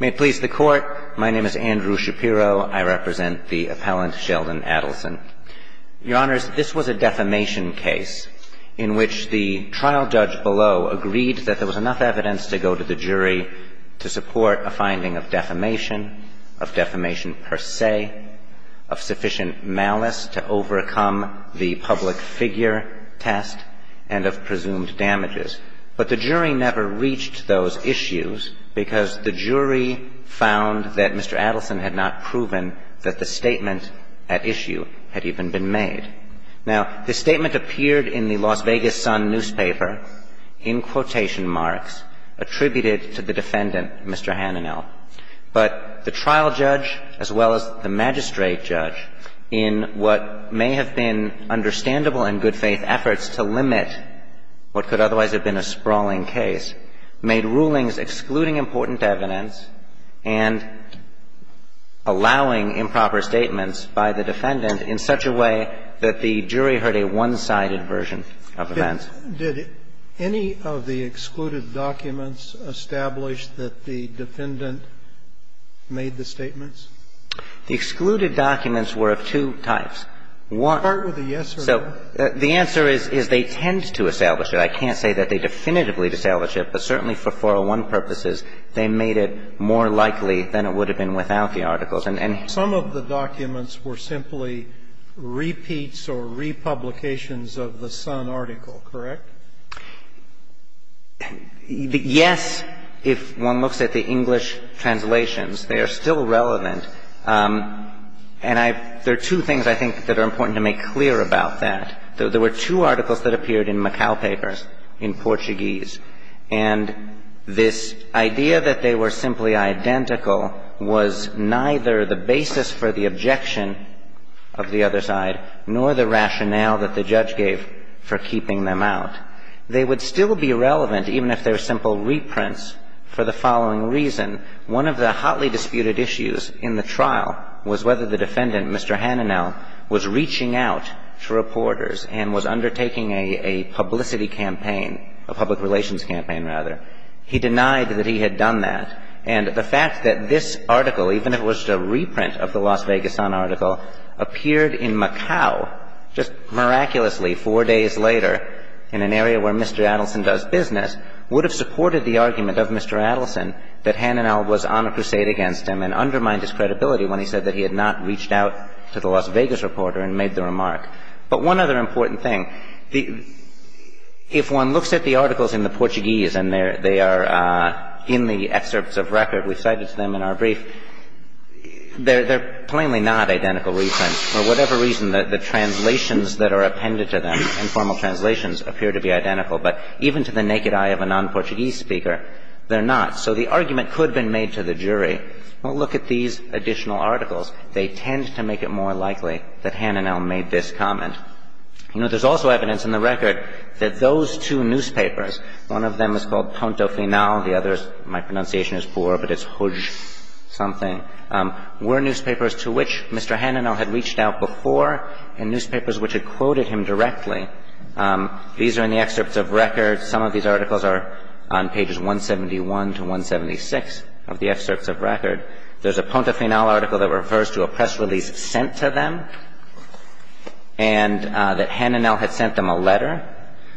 May it please the Court, my name is Andrew Shapiro. I represent the appellant Sheldon Adelson. Your Honors, this was a defamation case in which the trial judge below agreed that there was enough evidence to go to the jury to support a finding of defamation, of defamation per se, of sufficient malice to overcome the public figure test, and of presumed damages. But the jury never reached those issues because the jury found that Mr. Adelson had not proven that the statement at issue had even been made. Now, the statement appeared in the Las Vegas Sun newspaper in quotation marks attributed to the defendant, Mr. Hananel. But the trial judge, as well as the magistrate judge, in what may have been understandable and good-faith efforts to limit what could otherwise have been a sprawling case, made rulings excluding important evidence and allowing improper statements by the defendant in such a way that the jury heard a one-sided version of events. And did any of the excluded documents establish that the defendant made the statements? The excluded documents were of two types. One was a yes or no. So the answer is they tend to establish it. I can't say that they definitively established it, but certainly for 401 purposes, they made it more likely than it would have been without the articles. Some of the documents were simply repeats or republications of the Sun article, correct? Yes, if one looks at the English translations. They are still relevant. And I – there are two things I think that are important to make clear about that. There were two articles that appeared in Macau papers in Portuguese. And this idea that they were simply identical was neither the basis for the objection of the other side nor the rationale that the judge gave for keeping them out. They would still be relevant even if they were simple reprints for the following reason. One of the hotly disputed issues in the trial was whether the defendant, Mr. Hananel, was reaching out to reporters and was undertaking a publicity campaign, a public relations campaign, rather. He denied that he had done that. And the fact that this article, even if it was a reprint of the Las Vegas Sun article, appeared in Macau just miraculously four days later in an area where Mr. Adelson does business, would have supported the argument of Mr. Adelson that Hananel was on a crusade against him and undermined his credibility when he said that he had not reached out to the Las Vegas reporter and made the remark. But one other important thing, the – if one looks at the articles in the Portuguese and they are in the excerpts of record we cited to them in our brief, they're plainly not identical reprints. For whatever reason, the translations that are appended to them, informal translations, appear to be identical. But even to the naked eye of a non-Portuguese speaker, they're not. So the argument could have been made to the jury. Well, look at these additional articles. They tend to make it more likely that Hananel made this comment. You know, there's also evidence in the record that those two newspapers, one of them is called Ponto Final, the other is – my pronunciation is poor, but it's Huj something – were newspapers to which Mr. Hananel had reached out before and newspapers which had quoted him directly. These are in the excerpts of record. Some of these articles are on pages 171 to 176 of the excerpts of record. There's a Ponto Final article that refers to a press release sent to them and that Hananel had sent them a letter.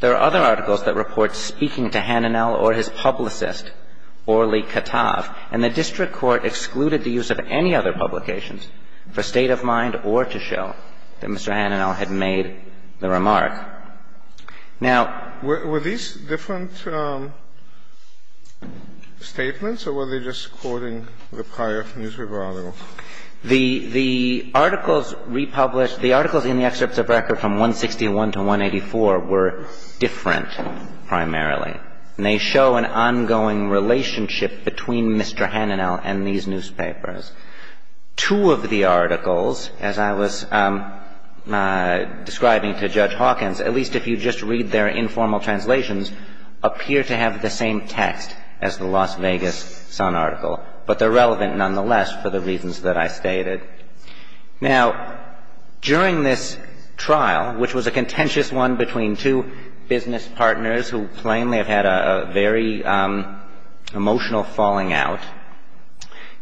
There are other articles that report speaking to Hananel or his publicist, Orly Katav. And the district court excluded the use of any other publications for state of mind or to show that Mr. Hananel had made the remark. Now – Were these different statements or were they just quoting the prior newspaper article? The articles republished – the articles in the excerpts of record from 161 to 184 were different primarily. And they show an ongoing relationship between Mr. Hananel and these newspapers. Two of the articles, as I was describing to Judge Hawkins, at least if you just read their informal translations, appear to have the same text as the Las Vegas Sun article. But they're relevant nonetheless for the reasons that I stated. Now, during this trial, which was a contentious one between two business partners who plainly have had a very emotional falling out,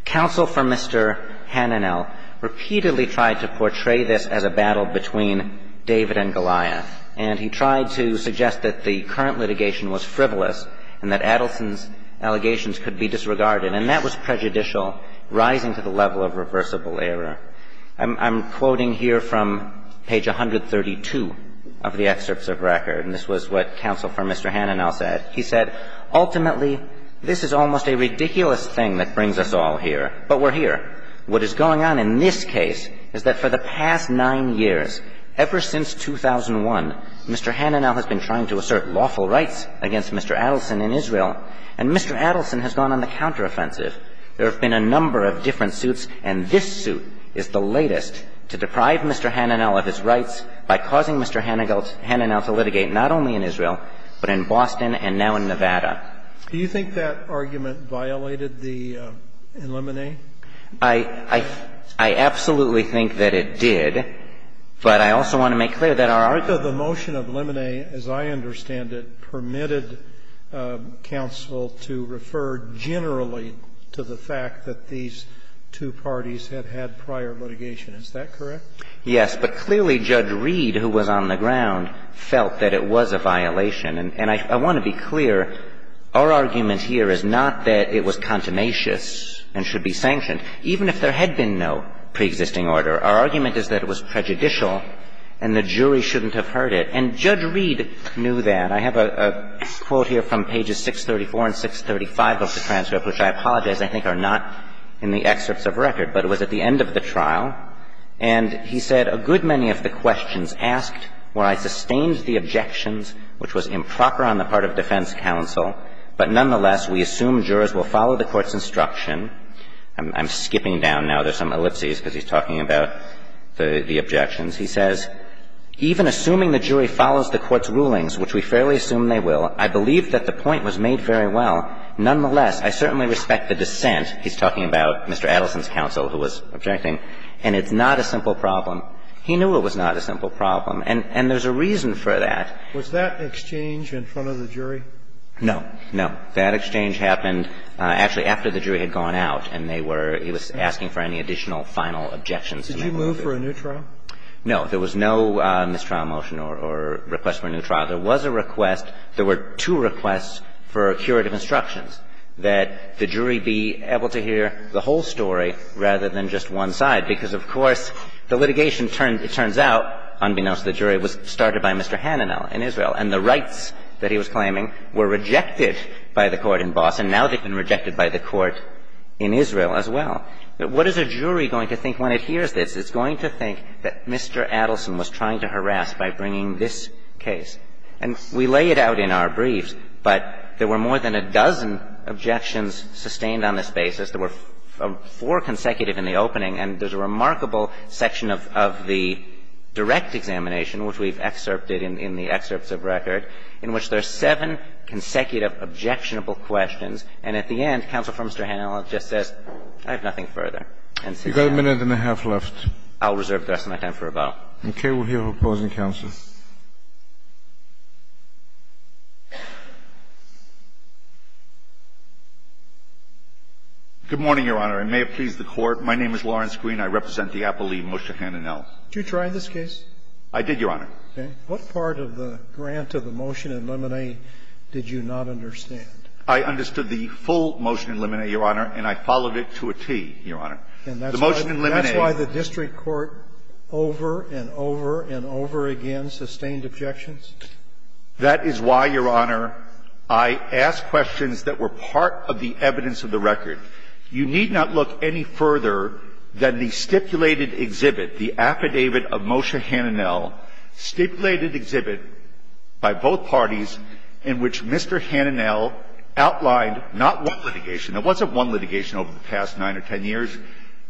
counsel for Mr. Hananel repeatedly tried to portray this as a battle between David and Goliath. And he tried to suggest that the current litigation was frivolous and that Adelson's allegations could be disregarded. And that was prejudicial, rising to the level of reversible error. I'm quoting here from page 132 of the excerpts of record. And this was what counsel for Mr. Hananel said. He said, ultimately, this is almost a ridiculous thing that brings us all here. But we're here. What is going on in this case is that for the past nine years, ever since 2001, Mr. Hananel has been trying to assert lawful rights against Mr. Adelson in Israel. And Mr. Adelson has gone on the counteroffensive. There have been a number of different suits. And this suit is the latest to deprive Mr. Hananel of his rights by causing Mr. Hananel to litigate not only in Israel, but in Boston and now in Nevada. Do you think that argument violated the lemonade? I absolutely think that it did. But I also want to make clear that our argument. The motion of lemonade, as I understand it, permitted counsel to refer generally to the fact that these two parties had had prior litigation. Is that correct? Yes. But clearly, Judge Reed, who was on the ground, felt that it was a violation. And I want to be clear, our argument here is not that it was contumacious and should be sanctioned, even if there had been no preexisting order. Our argument is that it was prejudicial and the jury shouldn't have heard it. And Judge Reed knew that. I have a quote here from pages 634 and 635 of the transcript, which I apologize I think are not in the excerpts of record, but it was at the end of the trial. And he said, A good many of the questions asked were I sustained the objections, which was improper on the part of defense counsel, but nonetheless we assume jurors will follow the court's instruction. I'm skipping down now. There's some ellipses because he's talking about the objections. He says, Even assuming the jury follows the court's rulings, which we fairly assume they will, I believe that the point was made very well. Nonetheless, I certainly respect the dissent. He's talking about Mr. Adelson's counsel, who was objecting. And it's not a simple problem. He knew it was not a simple problem. And there's a reason for that. Was that exchange in front of the jury? No. No. That exchange happened actually after the jury had gone out and they were, he was asking for any additional final objections. Did you move for a new trial? No. There was no mistrial motion or request for a new trial. There was a request. There were two requests for curative instructions, that the jury be able to hear the whole story rather than just one side, because, of course, the litigation turns out, unbeknownst to the jury, was started by Mr. Hananel in Israel. And the rights that he was claiming were rejected by the court in Boston. Now they've been rejected by the court in Israel as well. What is a jury going to think when it hears this? It's going to think that Mr. Adelson was trying to harass by bringing this case. And we lay it out in our briefs. But there were more than a dozen objections sustained on this basis. There were four consecutive in the opening. And there's a remarkable section of the direct examination, which we've excerpted in the excerpts of record, in which there are seven consecutive objectionable questions. And at the end, Counsel for Mr. Hananel just says, I have nothing further. You've got a minute and a half left. I'll reserve the rest of my time for rebuttal. Okay. We'll hear who opposes in counsel. Good morning, Your Honor. I may have pleased the Court. My name is Lawrence Green. I represent the Appellee, Moshe Hananel. Did you try this case? I did, Your Honor. Okay. What part of the grant of the motion in limine did you not understand? I understood the full motion in limine, Your Honor, and I followed it to a tee, Your Honor. The motion in limine. That's why the district court over and over and over again sustained objections? That is why, Your Honor, I asked questions that were part of the evidence of the record. You need not look any further than the stipulated exhibit, the affidavit of Moshe Hananel, stipulated exhibit by both parties in which Mr. Hananel outlined not one litigation. There wasn't one litigation over the past nine or ten years.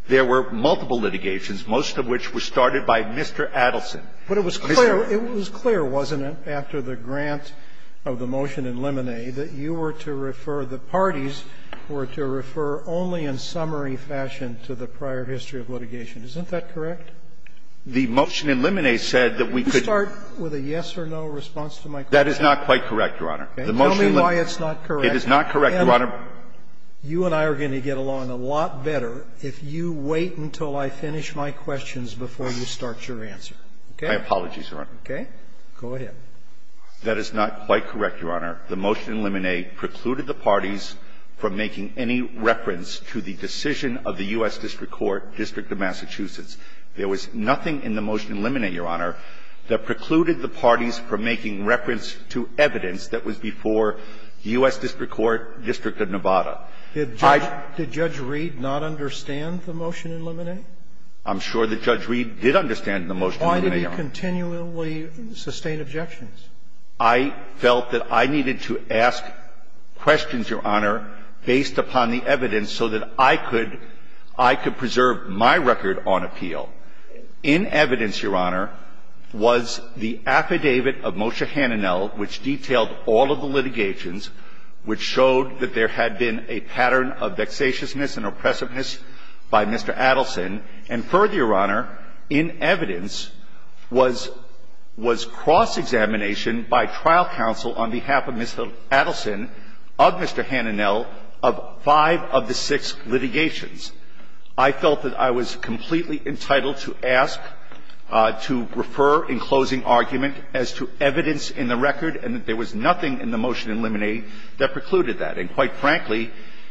There were multiple litigations, most of which were started by Mr. Adelson. Mr. Adelson. But it was clear, wasn't it, after the grant of the motion in limine that you were to refer, the parties were to refer only in summary fashion to the prior history of litigation. Isn't that correct? The motion in limine said that we could. Could you start with a yes or no response to my question? That is not quite correct, Your Honor. Tell me why it's not correct. It is not correct, Your Honor. You and I are going to get along a lot better if you wait until I finish my questions before you start your answer. My apologies, Your Honor. Okay. Go ahead. That is not quite correct, Your Honor. The motion in limine precluded the parties from making any reference to the decision of the U.S. District Court, District of Massachusetts. There was nothing in the motion in limine, Your Honor, that precluded the parties from making reference to evidence that was before the U.S. District Court, District of Nevada. Did Judge Reed not understand the motion in limine? I'm sure that Judge Reed did understand the motion in limine, Your Honor. Why did he continually sustain objections? I felt that I needed to ask questions, Your Honor, based upon the evidence so that I could preserve my record on appeal. In evidence, Your Honor, was the affidavit of Moshe Hananel, which detailed all of the litigations, which showed that there had been a pattern of vexatiousness and oppressiveness by Mr. Adelson. And further, Your Honor, in evidence was cross-examination by trial counsel on behalf of Mr. Adelson of Mr. Hananel of five of the six litigations. I felt that I was completely entitled to ask, to refer in closing argument as to evidence in the record and that there was nothing in the motion in limine that precluded that. And quite frankly,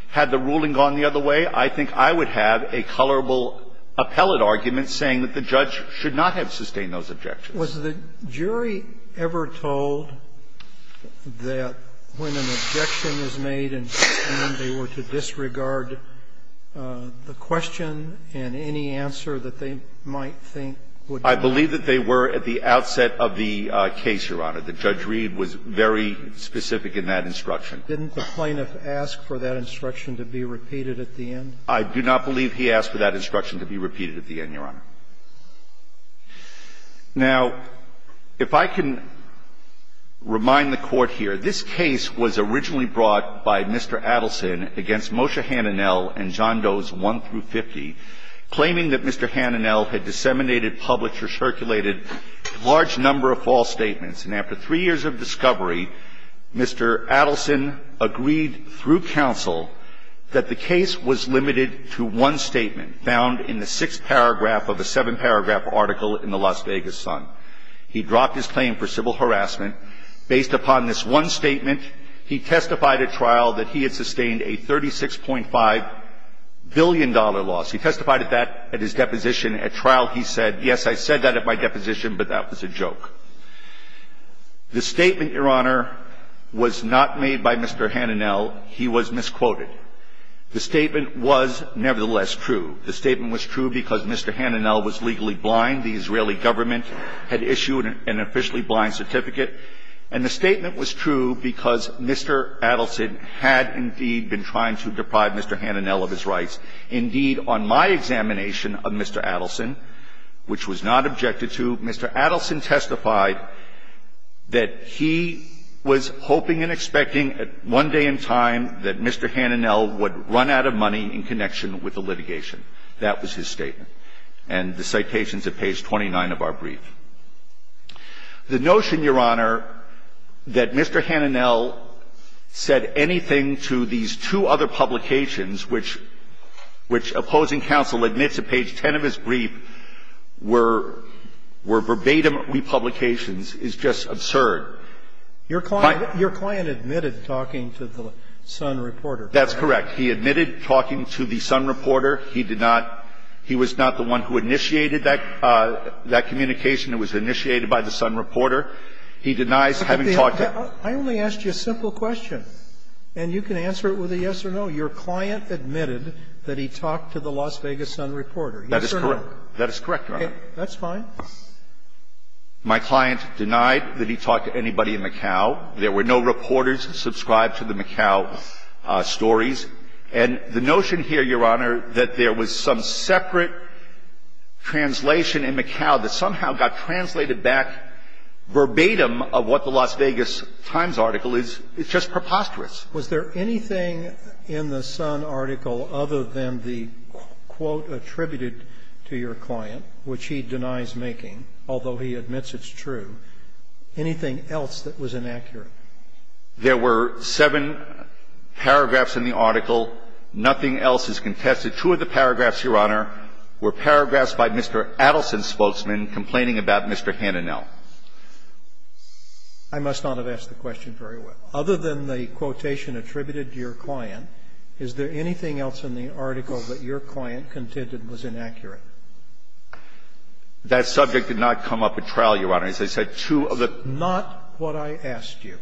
had the ruling gone the other way, I think I would have a colorable appellate argument saying that the judge should not have sustained those objections. Was the jury ever told that when an objection is made and they were to disregard the question and any answer that they might think would be necessary? I believe that they were at the outset of the case, Your Honor. The judge read was very specific in that instruction. Didn't the plaintiff ask for that instruction to be repeated at the end? I do not believe he asked for that instruction to be repeated at the end, Your Honor. Now, if I can remind the Court here, this case was originally brought by Mr. Adelson against Moshe Hananel and John Doe's 1 through 50, claiming that Mr. Hananel had disseminated, published, or circulated a large number of false statements. And after three years of discovery, Mr. Adelson agreed through counsel that the case was limited to one statement found in the sixth paragraph of a seven-paragraph article in the Las Vegas Sun. He dropped his claim for civil harassment. Based upon this one statement, he testified at trial that he had sustained a $36.5 billion loss. He testified at that at his deposition. At trial, he said, yes, I said that at my deposition, but that was a joke. The statement, Your Honor, was not made by Mr. Hananel. He was misquoted. The statement was nevertheless true. The statement was true because Mr. Hananel was legally blind. The Israeli government had issued an officially blind certificate. And the statement was true because Mr. Adelson had indeed been trying to deprive Mr. Hananel of his rights. Indeed, on my examination of Mr. Adelson, which was not objected to, Mr. Adelson testified that he was hoping and expecting one day in time that Mr. Hananel would run out of money in connection with the litigation. That was his statement. And the citation is at page 29 of our brief. The notion, Your Honor, that Mr. Hananel said anything to these two other publications, which opposing counsel admits at page 10 of his brief were verbatim republications is just absurd. Your client admitted talking to the Sun reporter. That's correct. He admitted talking to the Sun reporter. He did not – he was not the one who initiated that communication. It was initiated by the Sun reporter. He denies having talked to him. I only asked you a simple question, and you can answer it with a yes or no. Your client admitted that he talked to the Las Vegas Sun reporter. Yes or no? That is correct, Your Honor. That's fine. My client denied that he talked to anybody in Macau. There were no reporters subscribed to the Macau stories. And the notion here, Your Honor, that there was some separate translation in Macau that somehow got translated back verbatim of what the Las Vegas Times article is, it's just preposterous. Was there anything in the Sun article other than the quote attributed to your client, which he denies making, although he admits it's true, anything else that was inaccurate? There were seven paragraphs in the article. Nothing else is contested. Two of the paragraphs, Your Honor, were paragraphs by Mr. Adelson's spokesman complaining about Mr. Hananel. I must not have asked the question very well. Other than the quotation attributed to your client, is there anything else in the article that your client contended was inaccurate? That subject did not come up at trial, Your Honor. As I said, two of the – But not what I asked you.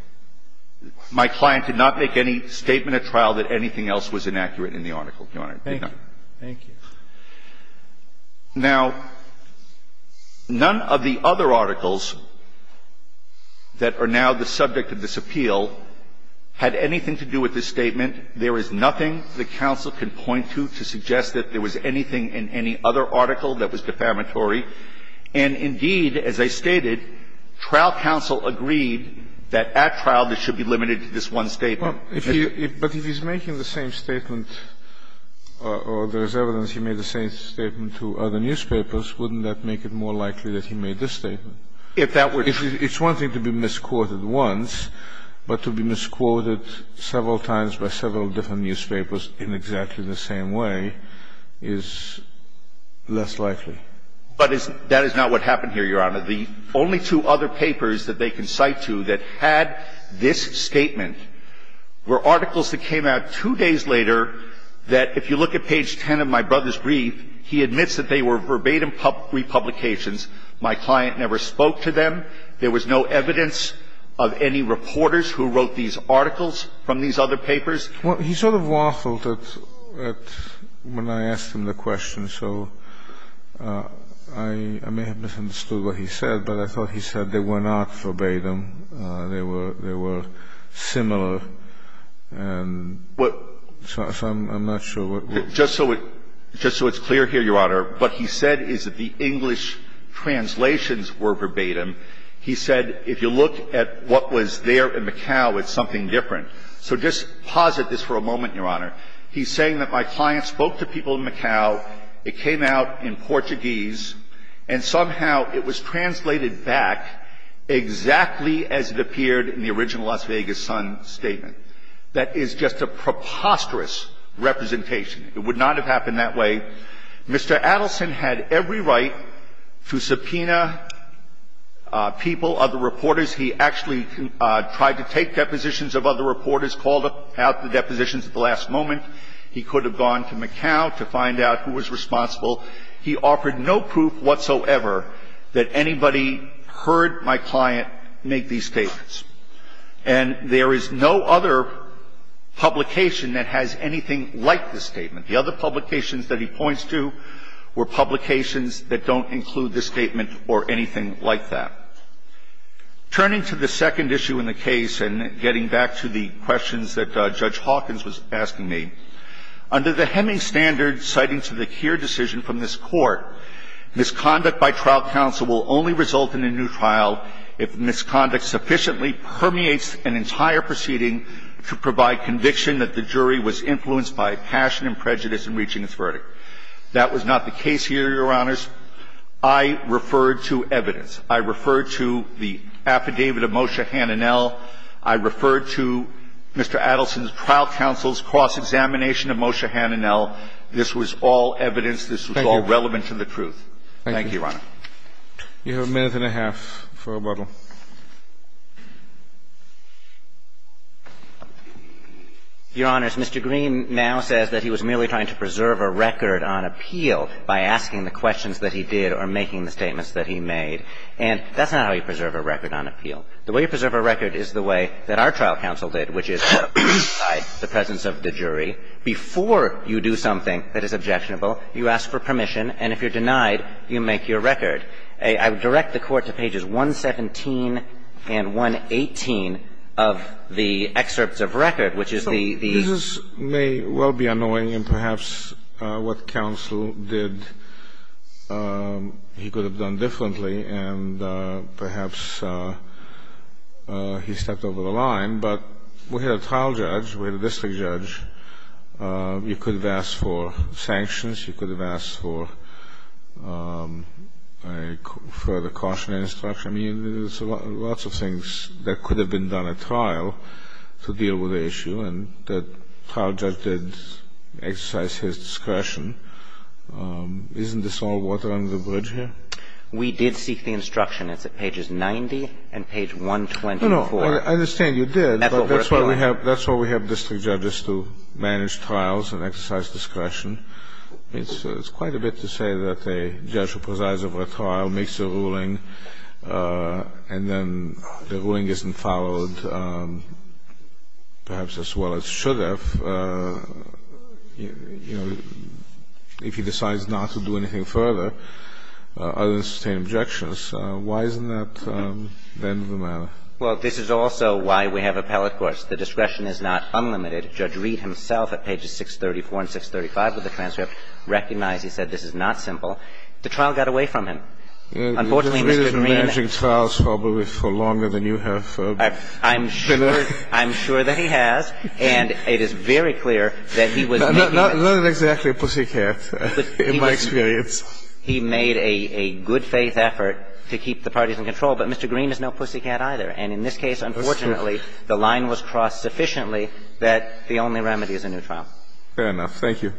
My client did not make any statement at trial that anything else was inaccurate in the article, Your Honor. Thank you. Thank you. Now, none of the other articles that are now the subject of this appeal had anything to do with this statement. There is nothing the counsel can point to to suggest that there was anything in any other article that was defamatory. And indeed, as I stated, trial counsel agreed that at trial this should be limited to this one statement. But if he's making the same statement or there is evidence he made the same statement to other newspapers, wouldn't that make it more likely that he made this statement? If that were true. It's one thing to be misquoted once, but to be misquoted several times by several different newspapers in exactly the same way is less likely. But that is not what happened here, Your Honor. The only two other papers that they can cite to that had this statement were articles that came out two days later that if you look at page 10 of my brother's brief, he admits that they were verbatim republications. My client never spoke to them. There was no evidence of any reporters who wrote these articles from these other papers. He sort of waffled when I asked him the question, so I may have misunderstood what he said, but I thought he said they were not verbatim, they were similar. And so I'm not sure what he said. Just so it's clear here, Your Honor, what he said is that the English translations were verbatim. He said if you look at what was there in Macau, it's something different. So just pause at this for a moment, Your Honor. He's saying that my client spoke to people in Macau, it came out in Portuguese, and somehow it was translated back exactly as it appeared in the original Las Vegas Sun statement. That is just a preposterous representation. It would not have happened that way. Mr. Adelson had every right to subpoena people, other reporters. He actually tried to take depositions of other reporters, called out the depositions at the last moment. He could have gone to Macau to find out who was responsible. He offered no proof whatsoever that anybody heard my client make these statements. And there is no other publication that has anything like this statement. The other publications that he points to were publications that don't include this statement or anything like that. Turning to the second issue in the case and getting back to the questions that Judge Hawkins was asking me, under the Heming standards citing to the here decision from this Court, misconduct by trial counsel will only result in a new trial if misconduct sufficiently permeates an entire proceeding to provide conviction that the jury was influenced by passion and prejudice in reaching its verdict. That was not the case here, Your Honors. I referred to evidence. I referred to the affidavit of Moshe Hananel. I referred to Mr. Adelson's trial counsel's cross-examination of Moshe Hananel. This was all evidence. This was all relevant to the truth. Thank you, Your Honor. You have a minute and a half for rebuttal. Your Honors, Mr. Green now says that he was merely trying to preserve a record on appeal by asking the questions that he did or making the statements that he made. And that's not how you preserve a record on appeal. The way you preserve a record is the way that our trial counsel did, which is to decide the presence of the jury before you do something that is objectionable. You ask for permission, and if you're denied, you make your record. I would direct the Court to pages 117 and 118 of the excerpts of record, which is the This may well be annoying, and perhaps what counsel did, he could have done differently, and perhaps he stepped over the line. But we had a trial judge. We had a district judge. You could have asked for sanctions. You could have asked for a further cautionary instruction. I mean, there's lots of things that could have been done at trial to deal with the issue, and that trial judge did exercise his discretion. Isn't this all water under the bridge here? We did seek the instruction. It's at pages 90 and page 124. No, no. I understand you did, but that's why we have district judges to manage trials and exercise discretion. It's quite a bit to say that a judge who presides over a trial makes a ruling, and then the ruling isn't followed perhaps as well as it should have, you know, if he decides not to do anything further other than sustain objections, why isn't that the end of the matter? Well, this is also why we have appellate courts. The discretion is not unlimited. Judge Reed himself at pages 634 and 635 of the transcript recognized he said this is not simple. The trial got away from him. Unfortunately, Mr. Greene – He hasn't been managing trials probably for longer than you have. I'm sure that he has, and it is very clear that he was making – Not exactly a pussycat, in my experience. He made a good-faith effort to keep the parties in control, but Mr. Greene is no pussycat either. And in this case, unfortunately, the line was crossed sufficiently that the only remedy is a new trial. Fair enough. Thank you.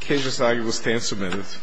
The case is now able to stand for a minute.